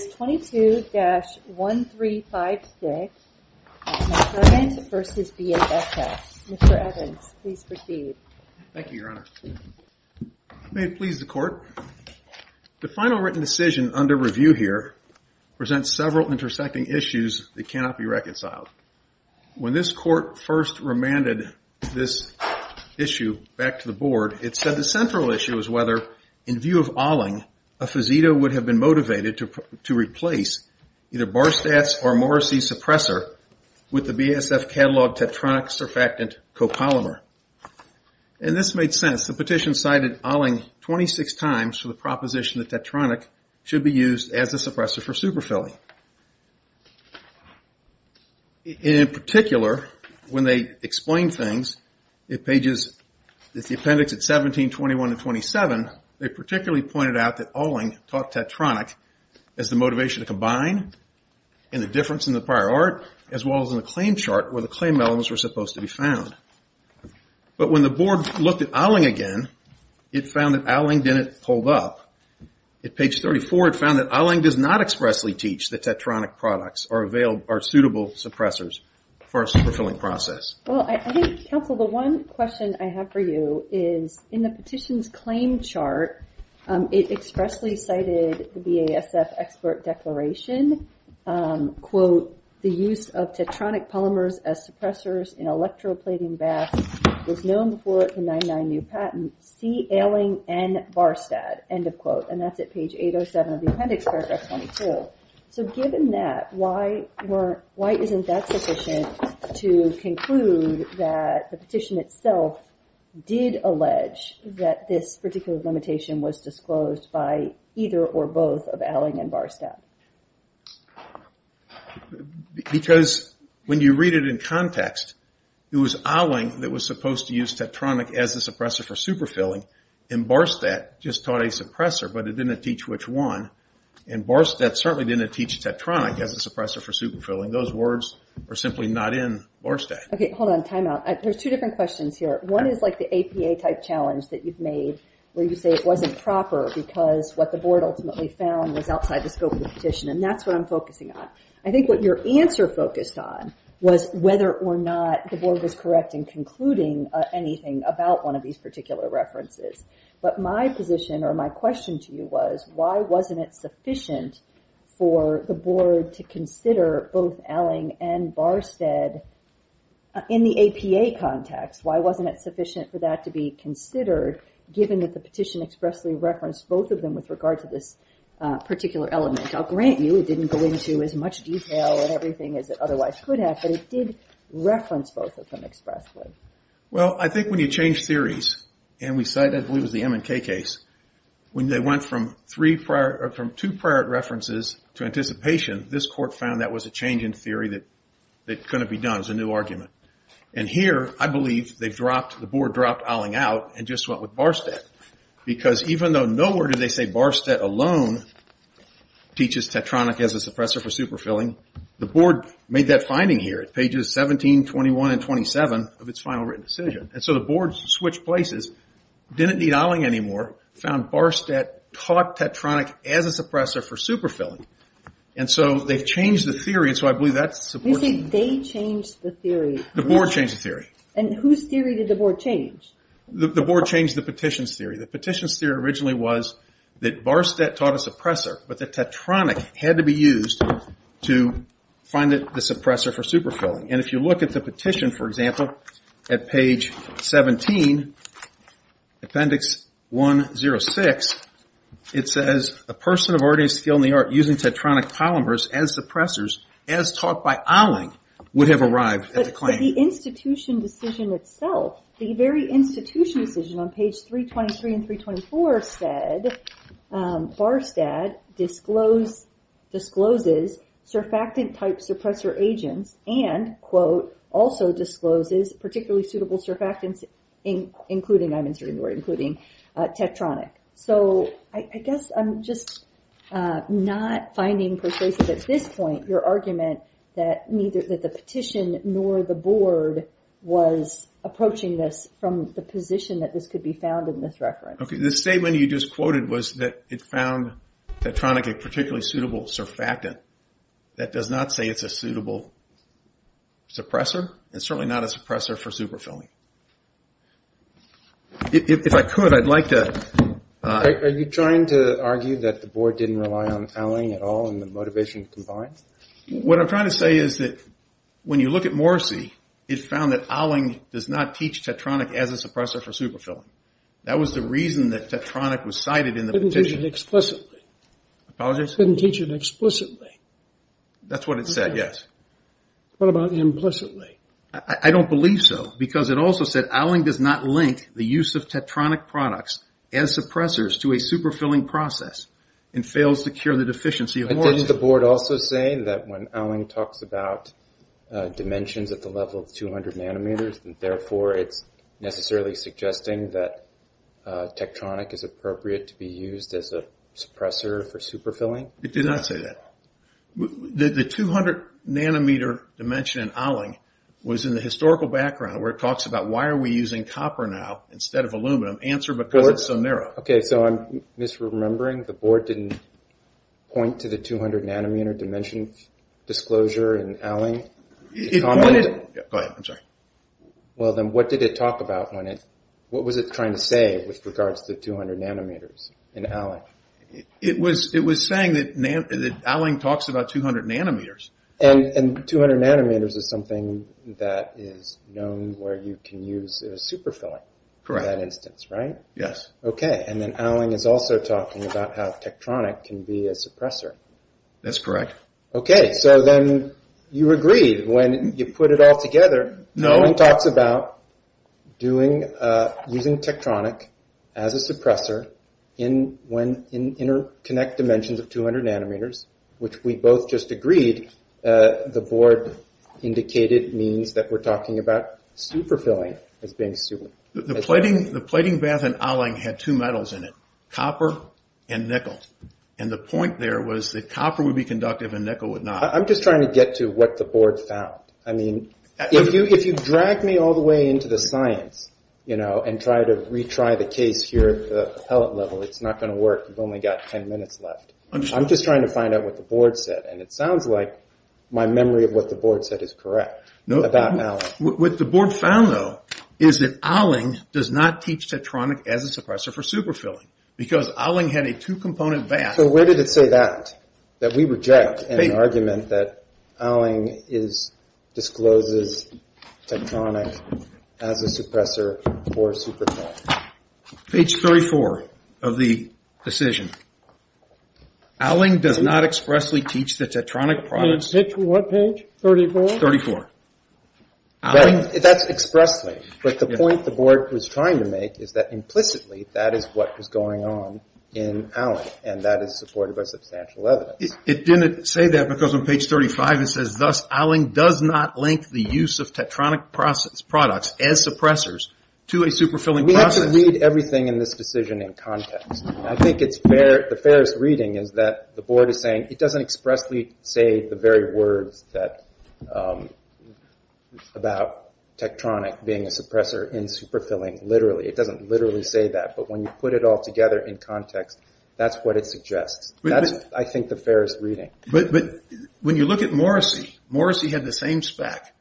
22-1356, Mr. Evans v. BASF. Mr. Evans, please proceed. Thank you, Your Honor. May it please the Court? The final written decision under review here presents several intersecting issues that cannot be reconciled. When this Court first remanded this issue back to the Board, it said the central issue is whether, in view of Ahling, a fazeda would have been motivated to replace either Barstats or Morrissey suppressor with the BASF catalog tetronic surfactant copolymer. And this made sense. The petition cited Ahling 26 times for the proposition that tetronic should be used as a suppressor for superfilling. In particular, when they explained things in pages, it's the appendix at 17, 21, and 27, they particularly pointed out that Ahling taught tetronic as the motivation to combine and the difference in the prior art, as well as in the claim chart where the claim elements were supposed to be found. But when the Board looked at Ahling again, it found that Ahling didn't hold up. At page 34, it found that Ahling does not expressly teach that tetronic products are suitable suppressors for a superfilling process. Well, I think, counsel, the one question I have for you is, in the petition's claim chart, it expressly cited the BASF expert declaration, quote, the use of tetronic polymers as suppressors in electroplating BASF was known before the 99 new patent. See Ahling and Barstat, end of quote. And that's at page 807 of the appendix, paragraph 22. So given that, why isn't that sufficient to conclude that the petition itself did allege that this particular limitation was disclosed by either or both of Ahling and Barstat? Because when you read it in context, it was Ahling that was supposed to use tetronic as a suppressor for superfilling, and Barstat just taught a suppressor, but it didn't teach which one, and Barstat certainly didn't teach tetronic as a suppressor for superfilling. Those words are simply not in Barstat. Okay, hold on, time out. There's two different questions here. One is like the APA type challenge that you've made where you say it wasn't proper because what the board ultimately found was outside the scope of the petition, and that's what I'm focusing on. I think what your answer focused on was whether or not the board was correct in concluding anything about one of these particular references. But my position or my question to you was, why wasn't it sufficient for the board to consider both Ahling and Barstat in the APA context? Why wasn't it sufficient for that to be considered given that the petition expressly referenced both of them with regard to this particular element? I'll grant you it didn't go into as much detail and everything as it otherwise could have, but it did reference both of them expressly. Well, I think when you change theories, and we cited, I believe it was the M&K case, when they went from two prior references to anticipation, this court found that was a change in theory that couldn't be done. It was a new argument. And here, I believe the board dropped Ahling out and just went with Barstat. Because even though nowhere did they say Barstat alone teaches Tetronic as a suppressor for superfilling, the board made that finding here at pages 17, 21, and 27 of its final written decision. And so the board switched places, didn't need Ahling anymore, found Barstat taught Tetronic as a suppressor for superfilling. And so they've changed the theory. You say they changed the theory. The board changed the theory. And whose theory did the board change? The board changed the petition's theory. The petition's theory originally was that Barstat taught a suppressor, but that Tetronic had to be used to find the suppressor for superfilling. And if you look at the petition, for example, at page 17, appendix 106, it says, a person of ordinary skill in the art using Tetronic polymers as suppressors, as taught by Ahling, would have arrived at the claim. But the institution decision itself, the very institution decision on page 323 and 324 said, Barstat discloses surfactant-type suppressor agents and, quote, also discloses particularly suitable surfactants, including, I'm inserting the word including, Tetronic. So I guess I'm just not finding persuasive at this point your argument that neither the petition nor the board was approaching this from the position that this could be found in this reference. Okay. The statement you just quoted was that it found Tetronic a particularly suitable surfactant. That does not say it's a suitable suppressor. It's certainly not a suppressor for superfilling. If I could, I'd like to... Are you trying to argue that the board didn't rely on Ahling at all and the motivation combined? What I'm trying to say is that when you look at Morrisey, it found that Ahling does not teach Tetronic as a suppressor for superfilling. That was the reason that Tetronic was cited in the petition. It didn't teach it explicitly. Apologies? It didn't teach it explicitly. That's what it said, yes. What about implicitly? I don't believe so because it also said Ahling does not link the use of Tetronic products as suppressors to a superfilling process and fails to cure the deficiency of Morrisey. Didn't the board also say that when Ahling talks about dimensions at the level of 200 nanometers, therefore it's necessarily suggesting that Tetronic is appropriate to be used as a suppressor for superfilling? It did not say that. The 200 nanometer dimension in Ahling was in the historical background where it talks about why are we using copper now instead of aluminum. Answer, because it's so narrow. Okay, so I'm misremembering. The board didn't point to the 200 nanometer dimension disclosure in Ahling? It pointed... Go ahead. I'm sorry. Well, then what did it talk about when it... What was it trying to say with regards to 200 nanometers in Ahling? It was saying that Ahling talks about 200 nanometers. And 200 nanometers is something that is known where you can use superfilling in that instance, right? Yes. Okay, and then Ahling is also talking about how Tetronic can be a suppressor. That's correct. Okay, so then you agreed when you put it all together. No. Ahling talks about using Tetronic as a suppressor in interconnect dimensions of 200 nanometers, which we both just agreed the board indicated means that we're talking about superfilling as being super. The plating bath in Ahling had two metals in it, copper and nickel. And the point there was that copper would be conductive and nickel would not. I'm just trying to get to what the board found. I mean, if you drag me all the way into the science and try to retry the case here at the pellet level, it's not going to work. You've only got 10 minutes left. I'm just trying to find out what the board said. And it sounds like my memory of what the board said is correct about Ahling. What the board found, though, is that Ahling does not teach Tetronic as a suppressor for superfilling because Ahling had a two-component bath. So where did it say that, that we reject an argument that Ahling discloses Tetronic as a suppressor for superfilling? Page 34 of the decision. Ahling does not expressly teach the Tetronic products. Page what, page 34? 34. That's expressly. But the point the board was trying to make is that implicitly that is what was going on in Ahling, and that is supported by substantial evidence. It didn't say that because on page 35 it says, thus Ahling does not link the use of Tetronic products as suppressors to a superfilling process. We have to read everything in this decision in context. I think the fairest reading is that the board is saying, it doesn't expressly say the very words about Tetronic being a suppressor in superfilling, literally. It doesn't literally say that. But when you put it all together in context, that's what it suggests. That's, I think, the fairest reading. But when you look at Morrissey, Morrissey had the same spec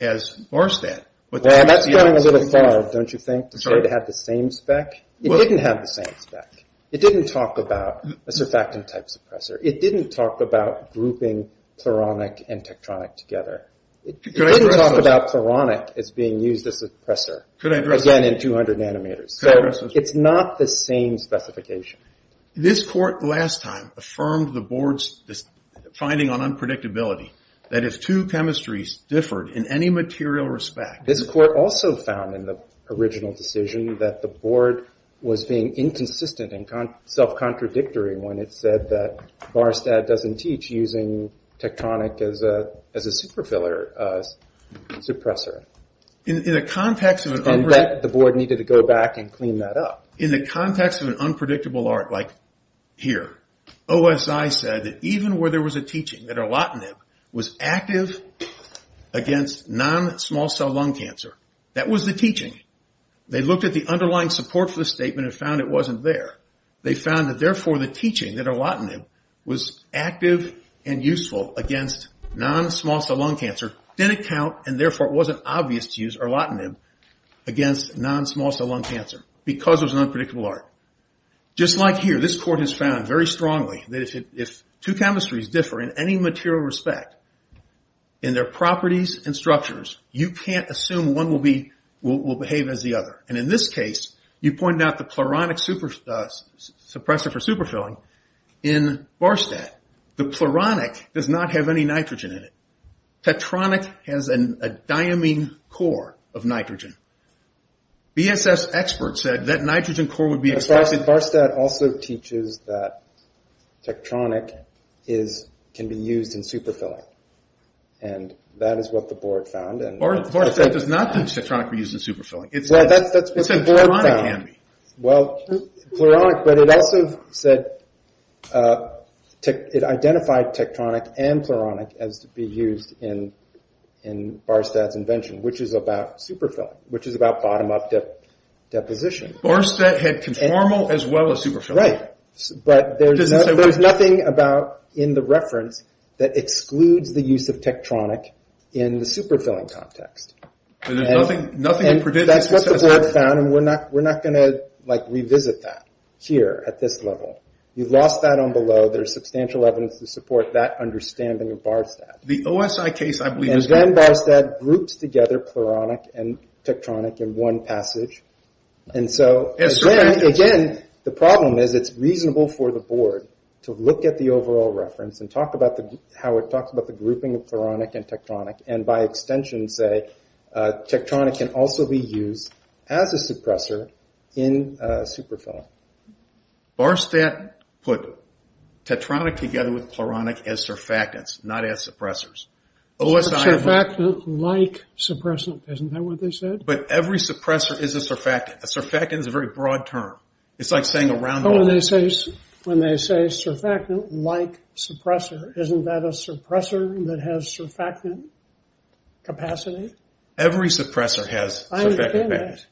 as Morristad. Well, that's going a little far, don't you think, to say it had the same spec? It didn't have the same spec. It didn't talk about a surfactant-type suppressor. It didn't talk about grouping Cloronic and Tetronic together. It didn't talk about Cloronic as being used as a suppressor, again, in 200 nanometers. So it's not the same specification. This court last time affirmed the board's finding on unpredictability, that if two chemistries differed in any material respect. This court also found in the original decision that the board was being inconsistent and self-contradictory when it said that Morristad doesn't teach using Tetronic as a superfiller suppressor. And that the board needed to go back and clean that up. In the context of an unpredictable art like here, OSI said that even where there was a teaching that Erlotinib was active against non-small cell lung cancer, that was the teaching. They looked at the underlying support for the statement and found it wasn't there. They found that, therefore, the teaching that Erlotinib was active and useful against non-small cell lung cancer didn't count. And, therefore, it wasn't obvious to use Erlotinib against non-small cell lung cancer because it was an unpredictable art. Just like here, this court has found very strongly that if two chemistries differ in any material respect in their properties and structures, you can't assume one will behave as the other. And in this case, you pointed out the Cloronic suppressor for superfilling in Morristad. The Cloronic does not have any nitrogen in it. Tetronic has a diamine core of nitrogen. BSS experts said that nitrogen core would be expressed in... But Morristad also teaches that Tetronic can be used in superfilling. And that is what the board found. Morristad does not teach Tetronic can be used in superfilling. It said Cloronic can be. Well, Cloronic, but it also said... It identified Tetronic and Cloronic as to be used in Morristad's invention, which is about superfilling, which is about bottom-up deposition. Morristad had conformal as well as superfilling. Right, but there's nothing in the reference that excludes the use of Tetronic in the superfilling context. And there's nothing to predict... That's what they found, and we're not going to revisit that here at this level. You've lost that on below. There's substantial evidence to support that understanding of Barstad. The OSI case, I believe... And then Barstad groups together Cloronic and Tetronic in one passage. And so, again, the problem is it's reasonable for the board to look at the overall reference and talk about how it talks about the grouping of Cloronic and Tetronic, and by extension say Tetronic can also be used as a suppressor in superfilling. Barstad put Tetronic together with Cloronic as surfactants, not as suppressors. Surfactant-like suppressant, isn't that what they said? But every suppressor is a surfactant. A surfactant is a very broad term. It's like saying a round ball. When they say surfactant-like suppressor, isn't that a suppressor that has surfactant capacity? Every suppressor has surfactant capacity.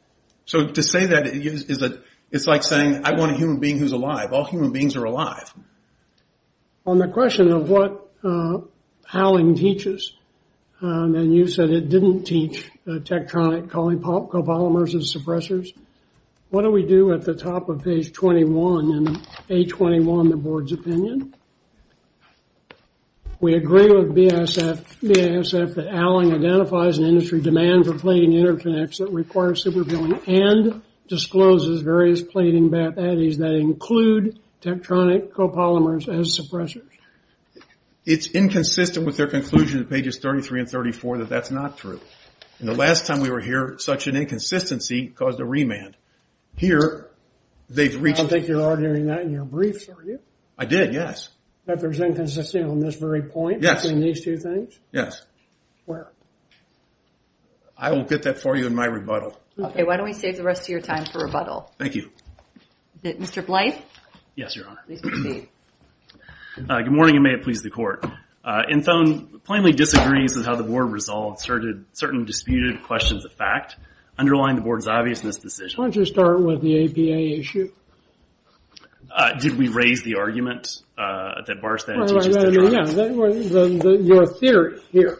So to say that, it's like saying I want a human being who's alive. All human beings are alive. On the question of what Howling teaches, and you said it didn't teach Tetronic, calling copolymers as suppressors, what do we do at the top of page 21 in A21, the board's opinion? We agree with BASF that Howling identifies an industry demand for plating interconnects that requires superfilling and discloses various plating baddies that include Tetronic copolymers as suppressors. It's inconsistent with their conclusion at pages 33 and 34 that that's not true. And the last time we were here, such an inconsistency caused a remand. Here, they've reached I don't think you're ordering that in your briefs, are you? I did, yes. That there's inconsistency on this very point between these two things? Yes. Where? I will get that for you in my rebuttal. Okay, why don't we save the rest of your time for rebuttal? Thank you. Mr. Blythe? Yes, Your Honor. Please proceed. Good morning, and may it please the Court. Infone plainly disagrees with how the board resolved certain disputed questions of fact underlying the board's obviousness decision. Why don't you start with the APA issue? Did we raise the argument that bars that? No, your theory here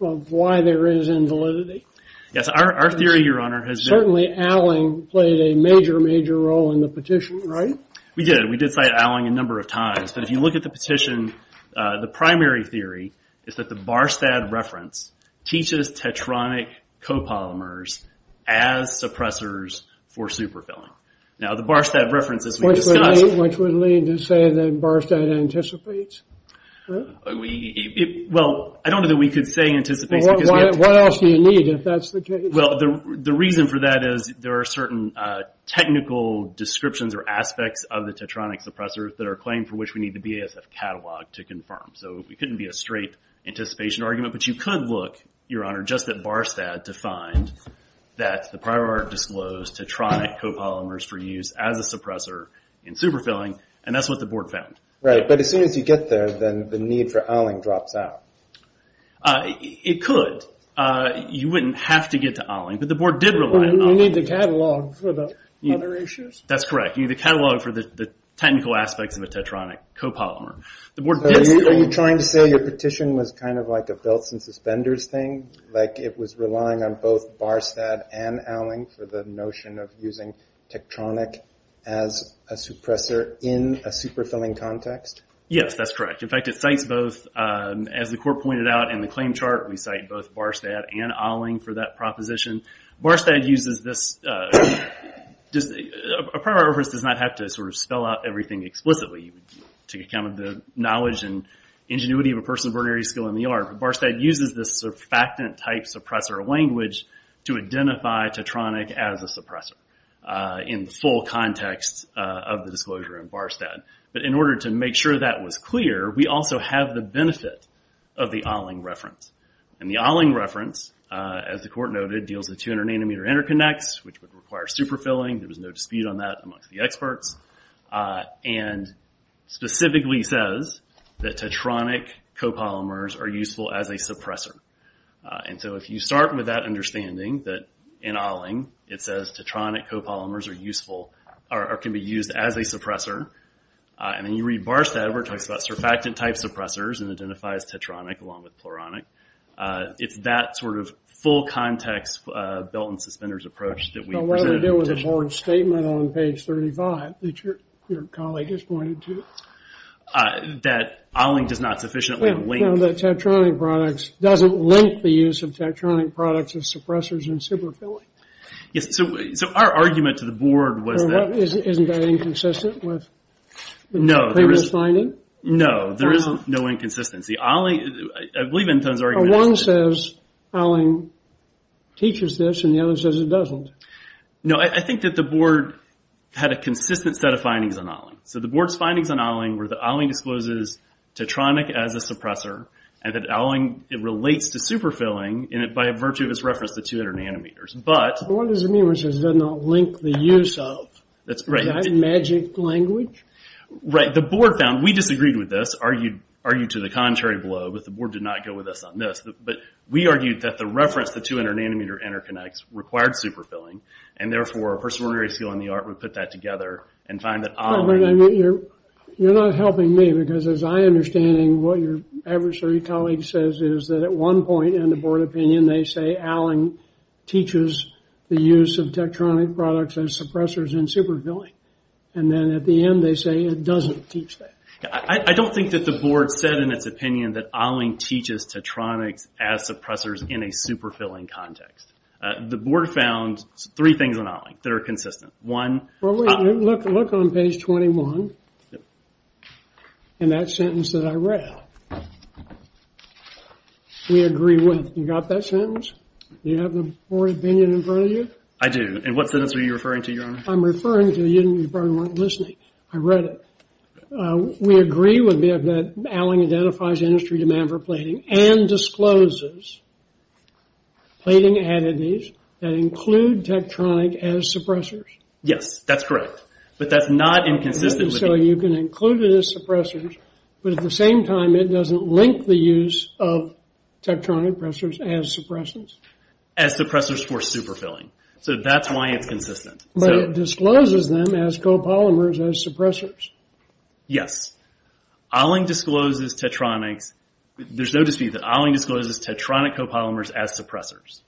of why there is invalidity. Yes, our theory, Your Honor, has been Certainly, Howling played a major, major role in the petition, right? We did. We did cite Howling a number of times. But if you look at the petition, the primary theory is that the bars that reference teaches tetronic copolymers as suppressors for superfilling. Now, the bars that reference, as we've discussed Which would lead to say that bars that anticipates? Well, I don't know that we could say anticipates What else do you need if that's the case? Well, the reason for that is there are certain technical descriptions or aspects of the tetronic suppressors that are claimed for which we need the BASF catalog to confirm. So it couldn't be a straight anticipation argument. But you could look, Your Honor, just at bars that defined that the prior art disclosed tetronic copolymers for use as a suppressor in superfilling. And that's what the board found. Right, but as soon as you get there, then the need for Howling drops out. It could. You wouldn't have to get to Howling, but the board did rely on Howling. You need the catalog for the other issues? That's correct. You need the catalog for the technical aspects of a tetronic copolymer. Are you trying to say your petition was kind of like a belts and suspenders thing? Like it was relying on both Barstad and Howling for the notion of using tectronic as a suppressor in a superfilling context? Yes, that's correct. In fact, it cites both, as the court pointed out in the claim chart, we cite both Barstad and Howling for that proposition. Barstad uses this, a prior art reference does not have to spell out everything explicitly. You would take account of the knowledge and ingenuity of a person's ordinary skill in the art. But Barstad uses this sort of factant type suppressor language to identify tetronic as a suppressor in the full context of the disclosure in Barstad. But in order to make sure that was clear, we also have the benefit of the Howling reference. And the Howling reference, as the court noted, deals with 200 nanometer interconnects, which would require superfilling. There was no dispute on that amongst the experts. And specifically says that tetronic copolymers are useful as a suppressor. And so if you start with that understanding that in Howling it says tetronic copolymers are useful, or can be used as a suppressor. And then you read Barstad where it talks about surfactant type suppressors and identifies tetronic along with pluronic. It's that sort of full context belt and suspenders approach that we presented in the petition. So what does it do with the board statement on page 35 that your colleague has pointed to? That Howling does not sufficiently link... No, that tetronic products doesn't link the use of tetronic products as suppressors in superfilling. Yes, so our argument to the board was that... No, there is no inconsistency. I believe in those arguments... One says Howling teaches this and the other says it doesn't. No, I think that the board had a consistent set of findings on Howling. So the board's findings on Howling were that Howling discloses tetronic as a suppressor and that Howling relates to superfilling by virtue of its reference to 200 nanometers. What does it mean when it says it does not link the use of? That's right. Is that magic language? Right, the board found, we disagreed with this, argued to the contrary blow, but the board did not go with us on this. But we argued that the reference the 200 nanometer interconnects required superfilling and therefore a person with a rare skill in the art would put that together and find that Howling... But you're not helping me because as I understand it, what your adversary colleague says is that at one point in the board opinion they say Howling teaches the use of tetronic products as suppressors in superfilling. And then at the end they say it doesn't teach that. I don't think that the board said in its opinion that Howling teaches tetronics as suppressors in a superfilling context. The board found three things on Howling that are consistent. Look on page 21 in that sentence that I read. We agree with. You got that sentence? Do you have the board opinion in front of you? I do. And what sentence are you referring to, Your Honor? I'm referring to, you probably weren't listening. I read it. We agree with that Howling identifies industry demand for plating and discloses plating additives that include tectronic as suppressors. Yes, that's correct. But that's not inconsistent with... It doesn't link the use of tectronic suppressors as suppressors. As suppressors for superfilling. So that's why it's consistent. But it discloses them as copolymers as suppressors. Yes. Howling discloses tetronics. There's no dispute that Howling discloses tetronic copolymers as suppressors.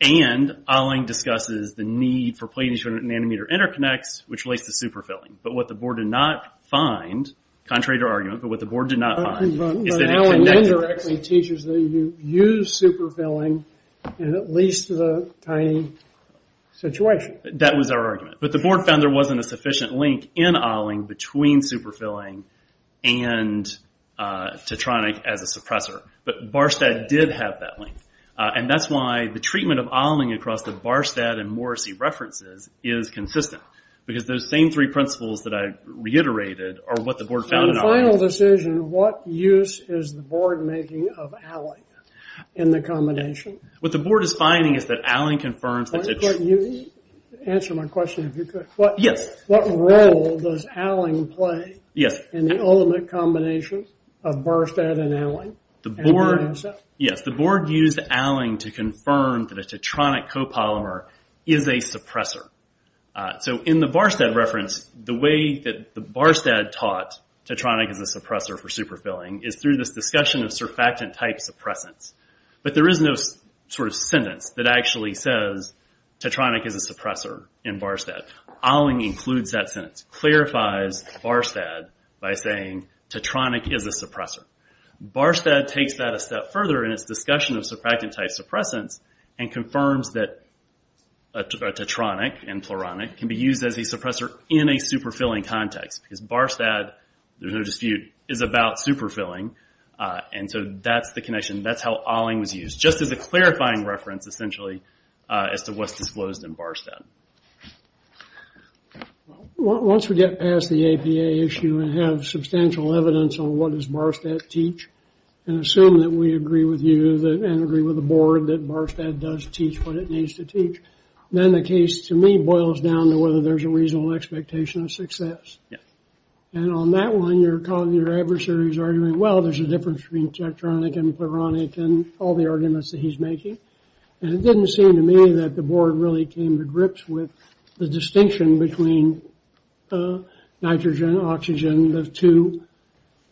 And Howling discusses the need for plating nanometer interconnects, which relates to superfilling. But what the board did not find, contrary to argument, but what the board did not find is that it connected... But Howling indirectly teaches that you use superfilling in at least the tiny situation. That was our argument. But the board found there wasn't a sufficient link in Howling between superfilling and tetronic as a suppressor. But Barstad did have that link. And that's why the treatment of Howling across the Barstad and Morrissey references is consistent. Because those same three principles that I reiterated are what the board found in Howling. In the final decision, what use is the board making of Howling in the combination? What the board is finding is that Howling confirms that it's... Answer my question if you could. Yes. What role does Howling play in the ultimate combination of Barstad and Howling? And where is it? Yes. The board used Howling to confirm that a tetronic copolymer is a suppressor. In the Barstad reference, the way that Barstad taught tetronic is a suppressor for superfilling is through this discussion of surfactant-type suppressants. But there is no sentence that actually says tetronic is a suppressor in Barstad. Howling includes that sentence, clarifies Barstad by saying tetronic is a suppressor. Barstad takes that a step further in its discussion of surfactant-type suppressants and confirms that a tetronic and pleuronic can be used as a suppressor in a superfilling context. Because Barstad, there's no dispute, is about superfilling. And so that's the connection. That's how Howling was used, just as a clarifying reference, essentially, as to what's disclosed in Barstad. Once we get past the APA issue and have substantial evidence on what does Barstad teach and assume that we agree with you and agree with the board that Barstad does teach what it needs to teach, then the case, to me, boils down to whether there's a reasonable expectation of success. And on that one, you're calling your adversaries arguing, well, there's a difference between tetronic and pleuronic and all the arguments that he's making. And it didn't seem to me that the board really came to grips with the distinction between nitrogen, oxygen, the two,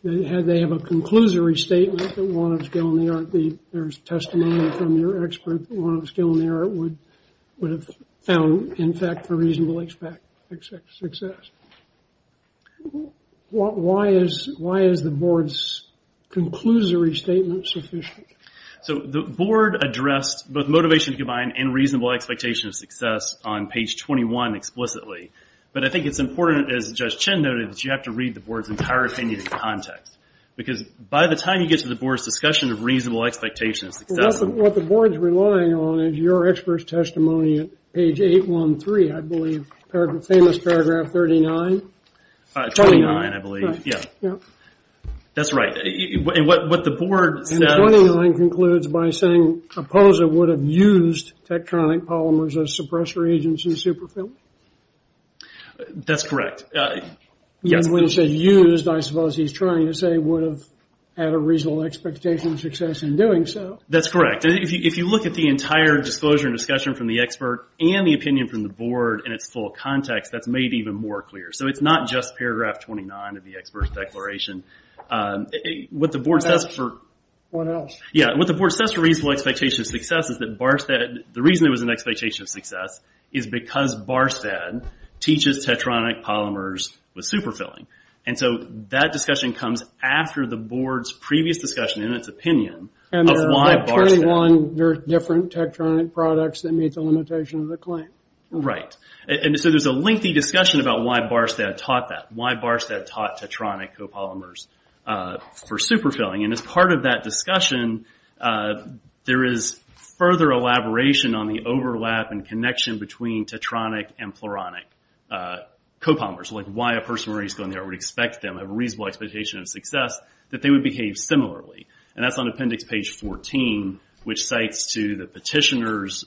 that they have a conclusory statement that one of skill and the art, there's testimony from your expert that one of skill and the art would have found, in fact, a reasonable expectation of success. Why is the board's conclusory statement sufficient? So the board addressed both motivation to combine and reasonable expectation of success on page 21 explicitly. But I think it's important, as Judge Chin noted, that you have to read the board's entire opinion in context. Because by the time you get to the board's discussion of reasonable expectation of success... What the board's relying on is your expert's testimony at page 813, I believe, famous paragraph 39. 29, I believe. That's right. And what the board says... Used tetronic polymers as suppressor agents in super film? That's correct. When he says used, I suppose he's trying to say would have had a reasonable expectation of success in doing so. That's correct. If you look at the entire disclosure and discussion from the expert and the opinion from the board in its full context, that's made even more clear. So it's not just paragraph 29 of the expert's declaration. What the board says for... What else? What the board says for reasonable expectation of success is that the reason there was an expectation of success is because Barstead teaches tetronic polymers with super filling. And so that discussion comes after the board's previous discussion in its opinion of why Barstead... And there are about 21 different tetronic products that meet the limitation of the claim. Right. And so there's a lengthy discussion about why Barstead taught that, why Barstead taught tetronic copolymers for super filling. And as part of that discussion, there is further elaboration on the overlap and connection between tetronic and pleuronic copolymers. Like why a person where he's going there would expect them, have a reasonable expectation of success, that they would behave similarly. And that's on appendix page 14, which cites to the petitioner's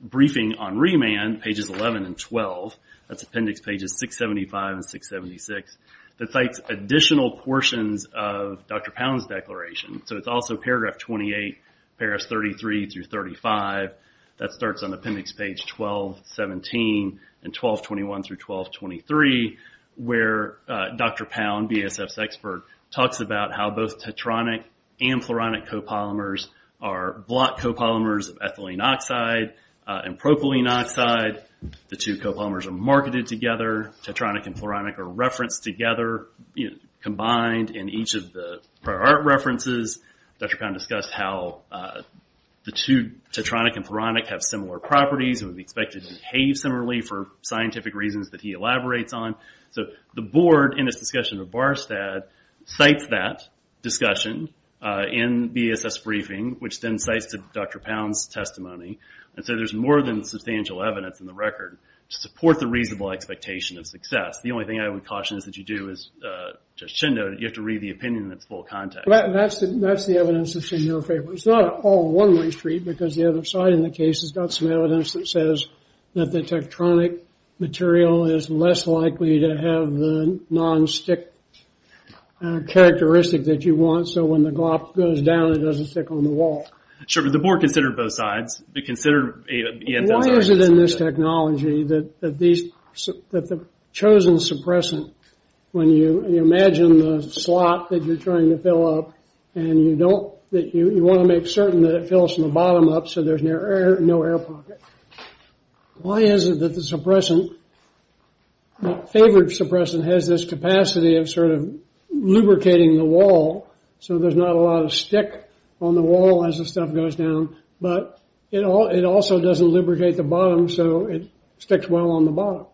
briefing on remand, pages 11 and 12. That's appendix pages 675 and 676. That cites additional portions of Dr. Pound's declaration. So it's also paragraph 28, paragraphs 33 through 35. That starts on appendix page 1217 and 1221 through 1223, where Dr. Pound, BASF's expert, talks about how both tetronic and pleuronic copolymers are block copolymers of ethylene oxide and propylene oxide. The two copolymers are marketed together. Tetronic and pleuronic are referenced together, combined in each of the prior art references. Dr. Pound discussed how the two, tetronic and pleuronic, have similar properties and would be expected to behave similarly for scientific reasons that he elaborates on. So the board, in its discussion of Barstead, cites that discussion in BASF's briefing, which then cites Dr. Pound's testimony. So there's more than substantial evidence in the record to support the reasonable expectation of success. The only thing I would caution is that you do, as Judge Schindler noted, you have to read the opinion in its full context. That's the evidence that's in your favor. It's not all one-way street, because the other side in the case has got some evidence that says that the tetronic material is less likely to have the non-stick characteristic that you want, so when the glop goes down, it doesn't stick on the wall. Sure, but the board considered both sides. Why is it in this technology that the chosen suppressant, when you imagine the slot that you're trying to fill up, and you want to make certain that it fills from the bottom up so there's no air pocket, why is it that the favored suppressant has this capacity of lubricating the wall so there's not a lot of stick on the wall as the stuff goes down, but it also doesn't lubricate the bottom, so it sticks well on the bottom?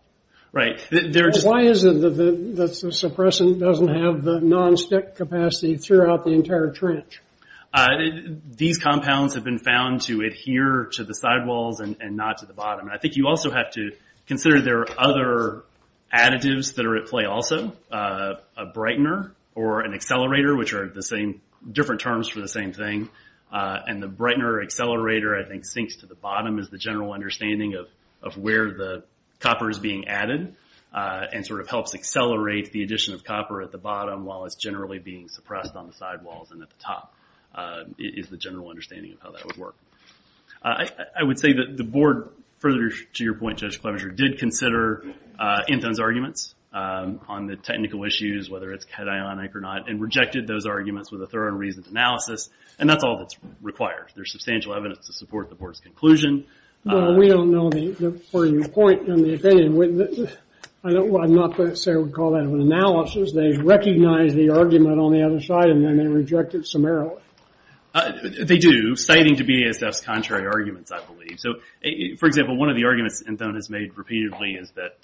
Right. Why is it that the suppressant doesn't have the non-stick capacity throughout the entire trench? These compounds have been found to adhere to the sidewalls and not to the bottom. I think you also have to consider there are other additives that are at play also, a brightener or an accelerator, which are different terms for the same thing, and the brightener or accelerator, I think, sinks to the bottom is the general understanding of where the copper is being added and helps accelerate the addition of copper at the bottom while it's generally being suppressed on the sidewalls and at the top is the general understanding of how that would work. I would say that the board, further to your point, Judge Clemenger, did consider Inton's arguments on the technical issues, whether it's cationic or not, and rejected those arguments with a thorough and reasoned analysis, and that's all that's required. There's substantial evidence to support the board's conclusion. We don't know, further to your point, I'm not going to say we call that an analysis. They recognize the argument on the other side, and then they reject it summarily. They do, citing to BASF's contrary arguments, I believe. For example, one of the arguments Inton has made repeatedly is that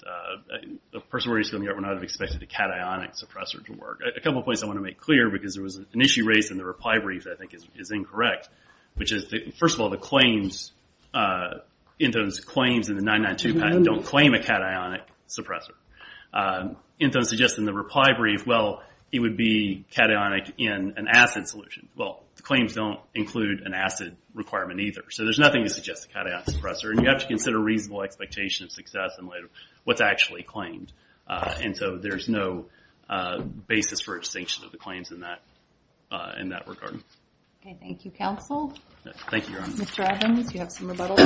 a person wearing a school uniform would not have expected a cationic suppressor to work. A couple of points I want to make clear, because there was an issue raised in the reply brief that I think is incorrect, which is, first of all, Inton's claims in the 992 patent don't claim a cationic suppressor. Inton suggests in the reply brief, well, it would be cationic in an acid solution. Well, the claims don't include an acid requirement either, so there's nothing to suggest a cationic suppressor, and you have to consider reasonable expectation of success in light of what's actually claimed. And so there's no basis for a distinction of the claims in that regard. Okay, thank you, counsel. Thank you, Your Honor. Mr. Adams, you have some rebuttals.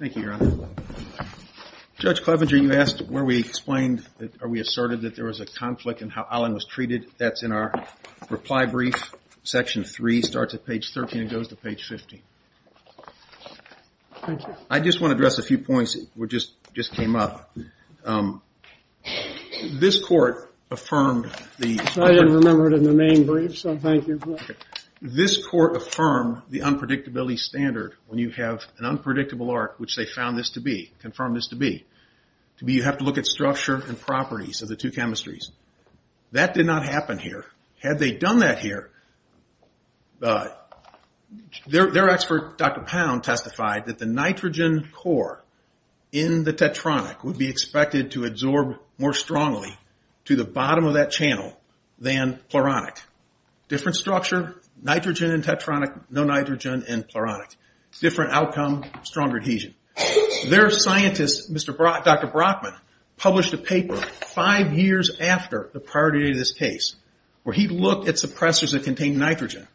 Thank you, Your Honor. Judge Clevenger, you asked where we explained, or we asserted, that there was a conflict in how Allen was treated. That's in our reply brief. Section 3 starts at page 13 and goes to page 15. Thank you. I just want to address a few points that just came up. This court affirmed the… I didn't remember it in the main brief, so thank you. This court affirmed the unpredictability standard when you have an unpredictable arc, which they found this to be, confirmed this to be. You have to look at structure and properties of the two chemistries. That did not happen here. Had they done that here, their expert, Dr. Pound, testified that the nitrogen core in the tetronic would be expected to absorb more strongly to the bottom of that channel than pluronic. Different structure, nitrogen in tetronic, no nitrogen in pluronic. Different outcome, stronger adhesion. Their scientist, Dr. Brockman, published a paper five years after the priority of this case where he looked at suppressors that contained nitrogen.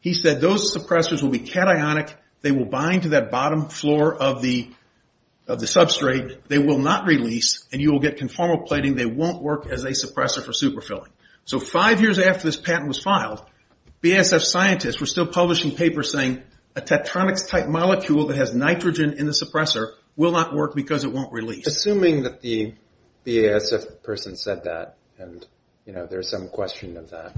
He said those suppressors will be cationic. They will bind to that bottom floor of the substrate. They will not release, and you will get conformal plating. They won't work as a suppressor for superfilling. So five years after this patent was filed, BASF scientists were still publishing papers saying a tetronics-type molecule that has nitrogen in the suppressor will not work because it won't release. Assuming that the BASF person said that and there's some question of that,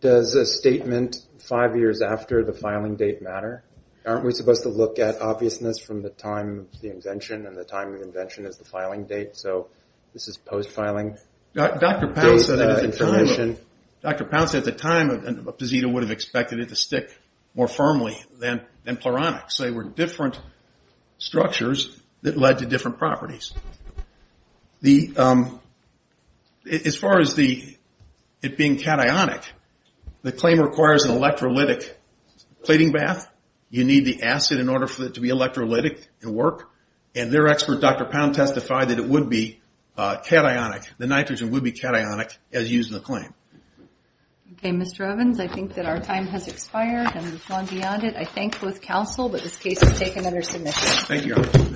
does a statement five years after the filing date matter? Aren't we supposed to look at obviousness from the time of the invention and the time of invention as the filing date? So this is post-filing data information. Dr. Pound said at the time Posita would have expected it to stick more firmly than pleronics. They were different structures that led to different properties. As far as it being cationic, the claim requires an electrolytic plating bath. You need the acid in order for it to be electrolytic to work, and their expert, Dr. Pound, testified that it would be cationic. The nitrogen would be cationic as used in the claim. Okay, Mr. Evans, I think that our time has expired and we've gone beyond it. I thank both counsel, but this case is taken under submission. Thank you, Your Honor.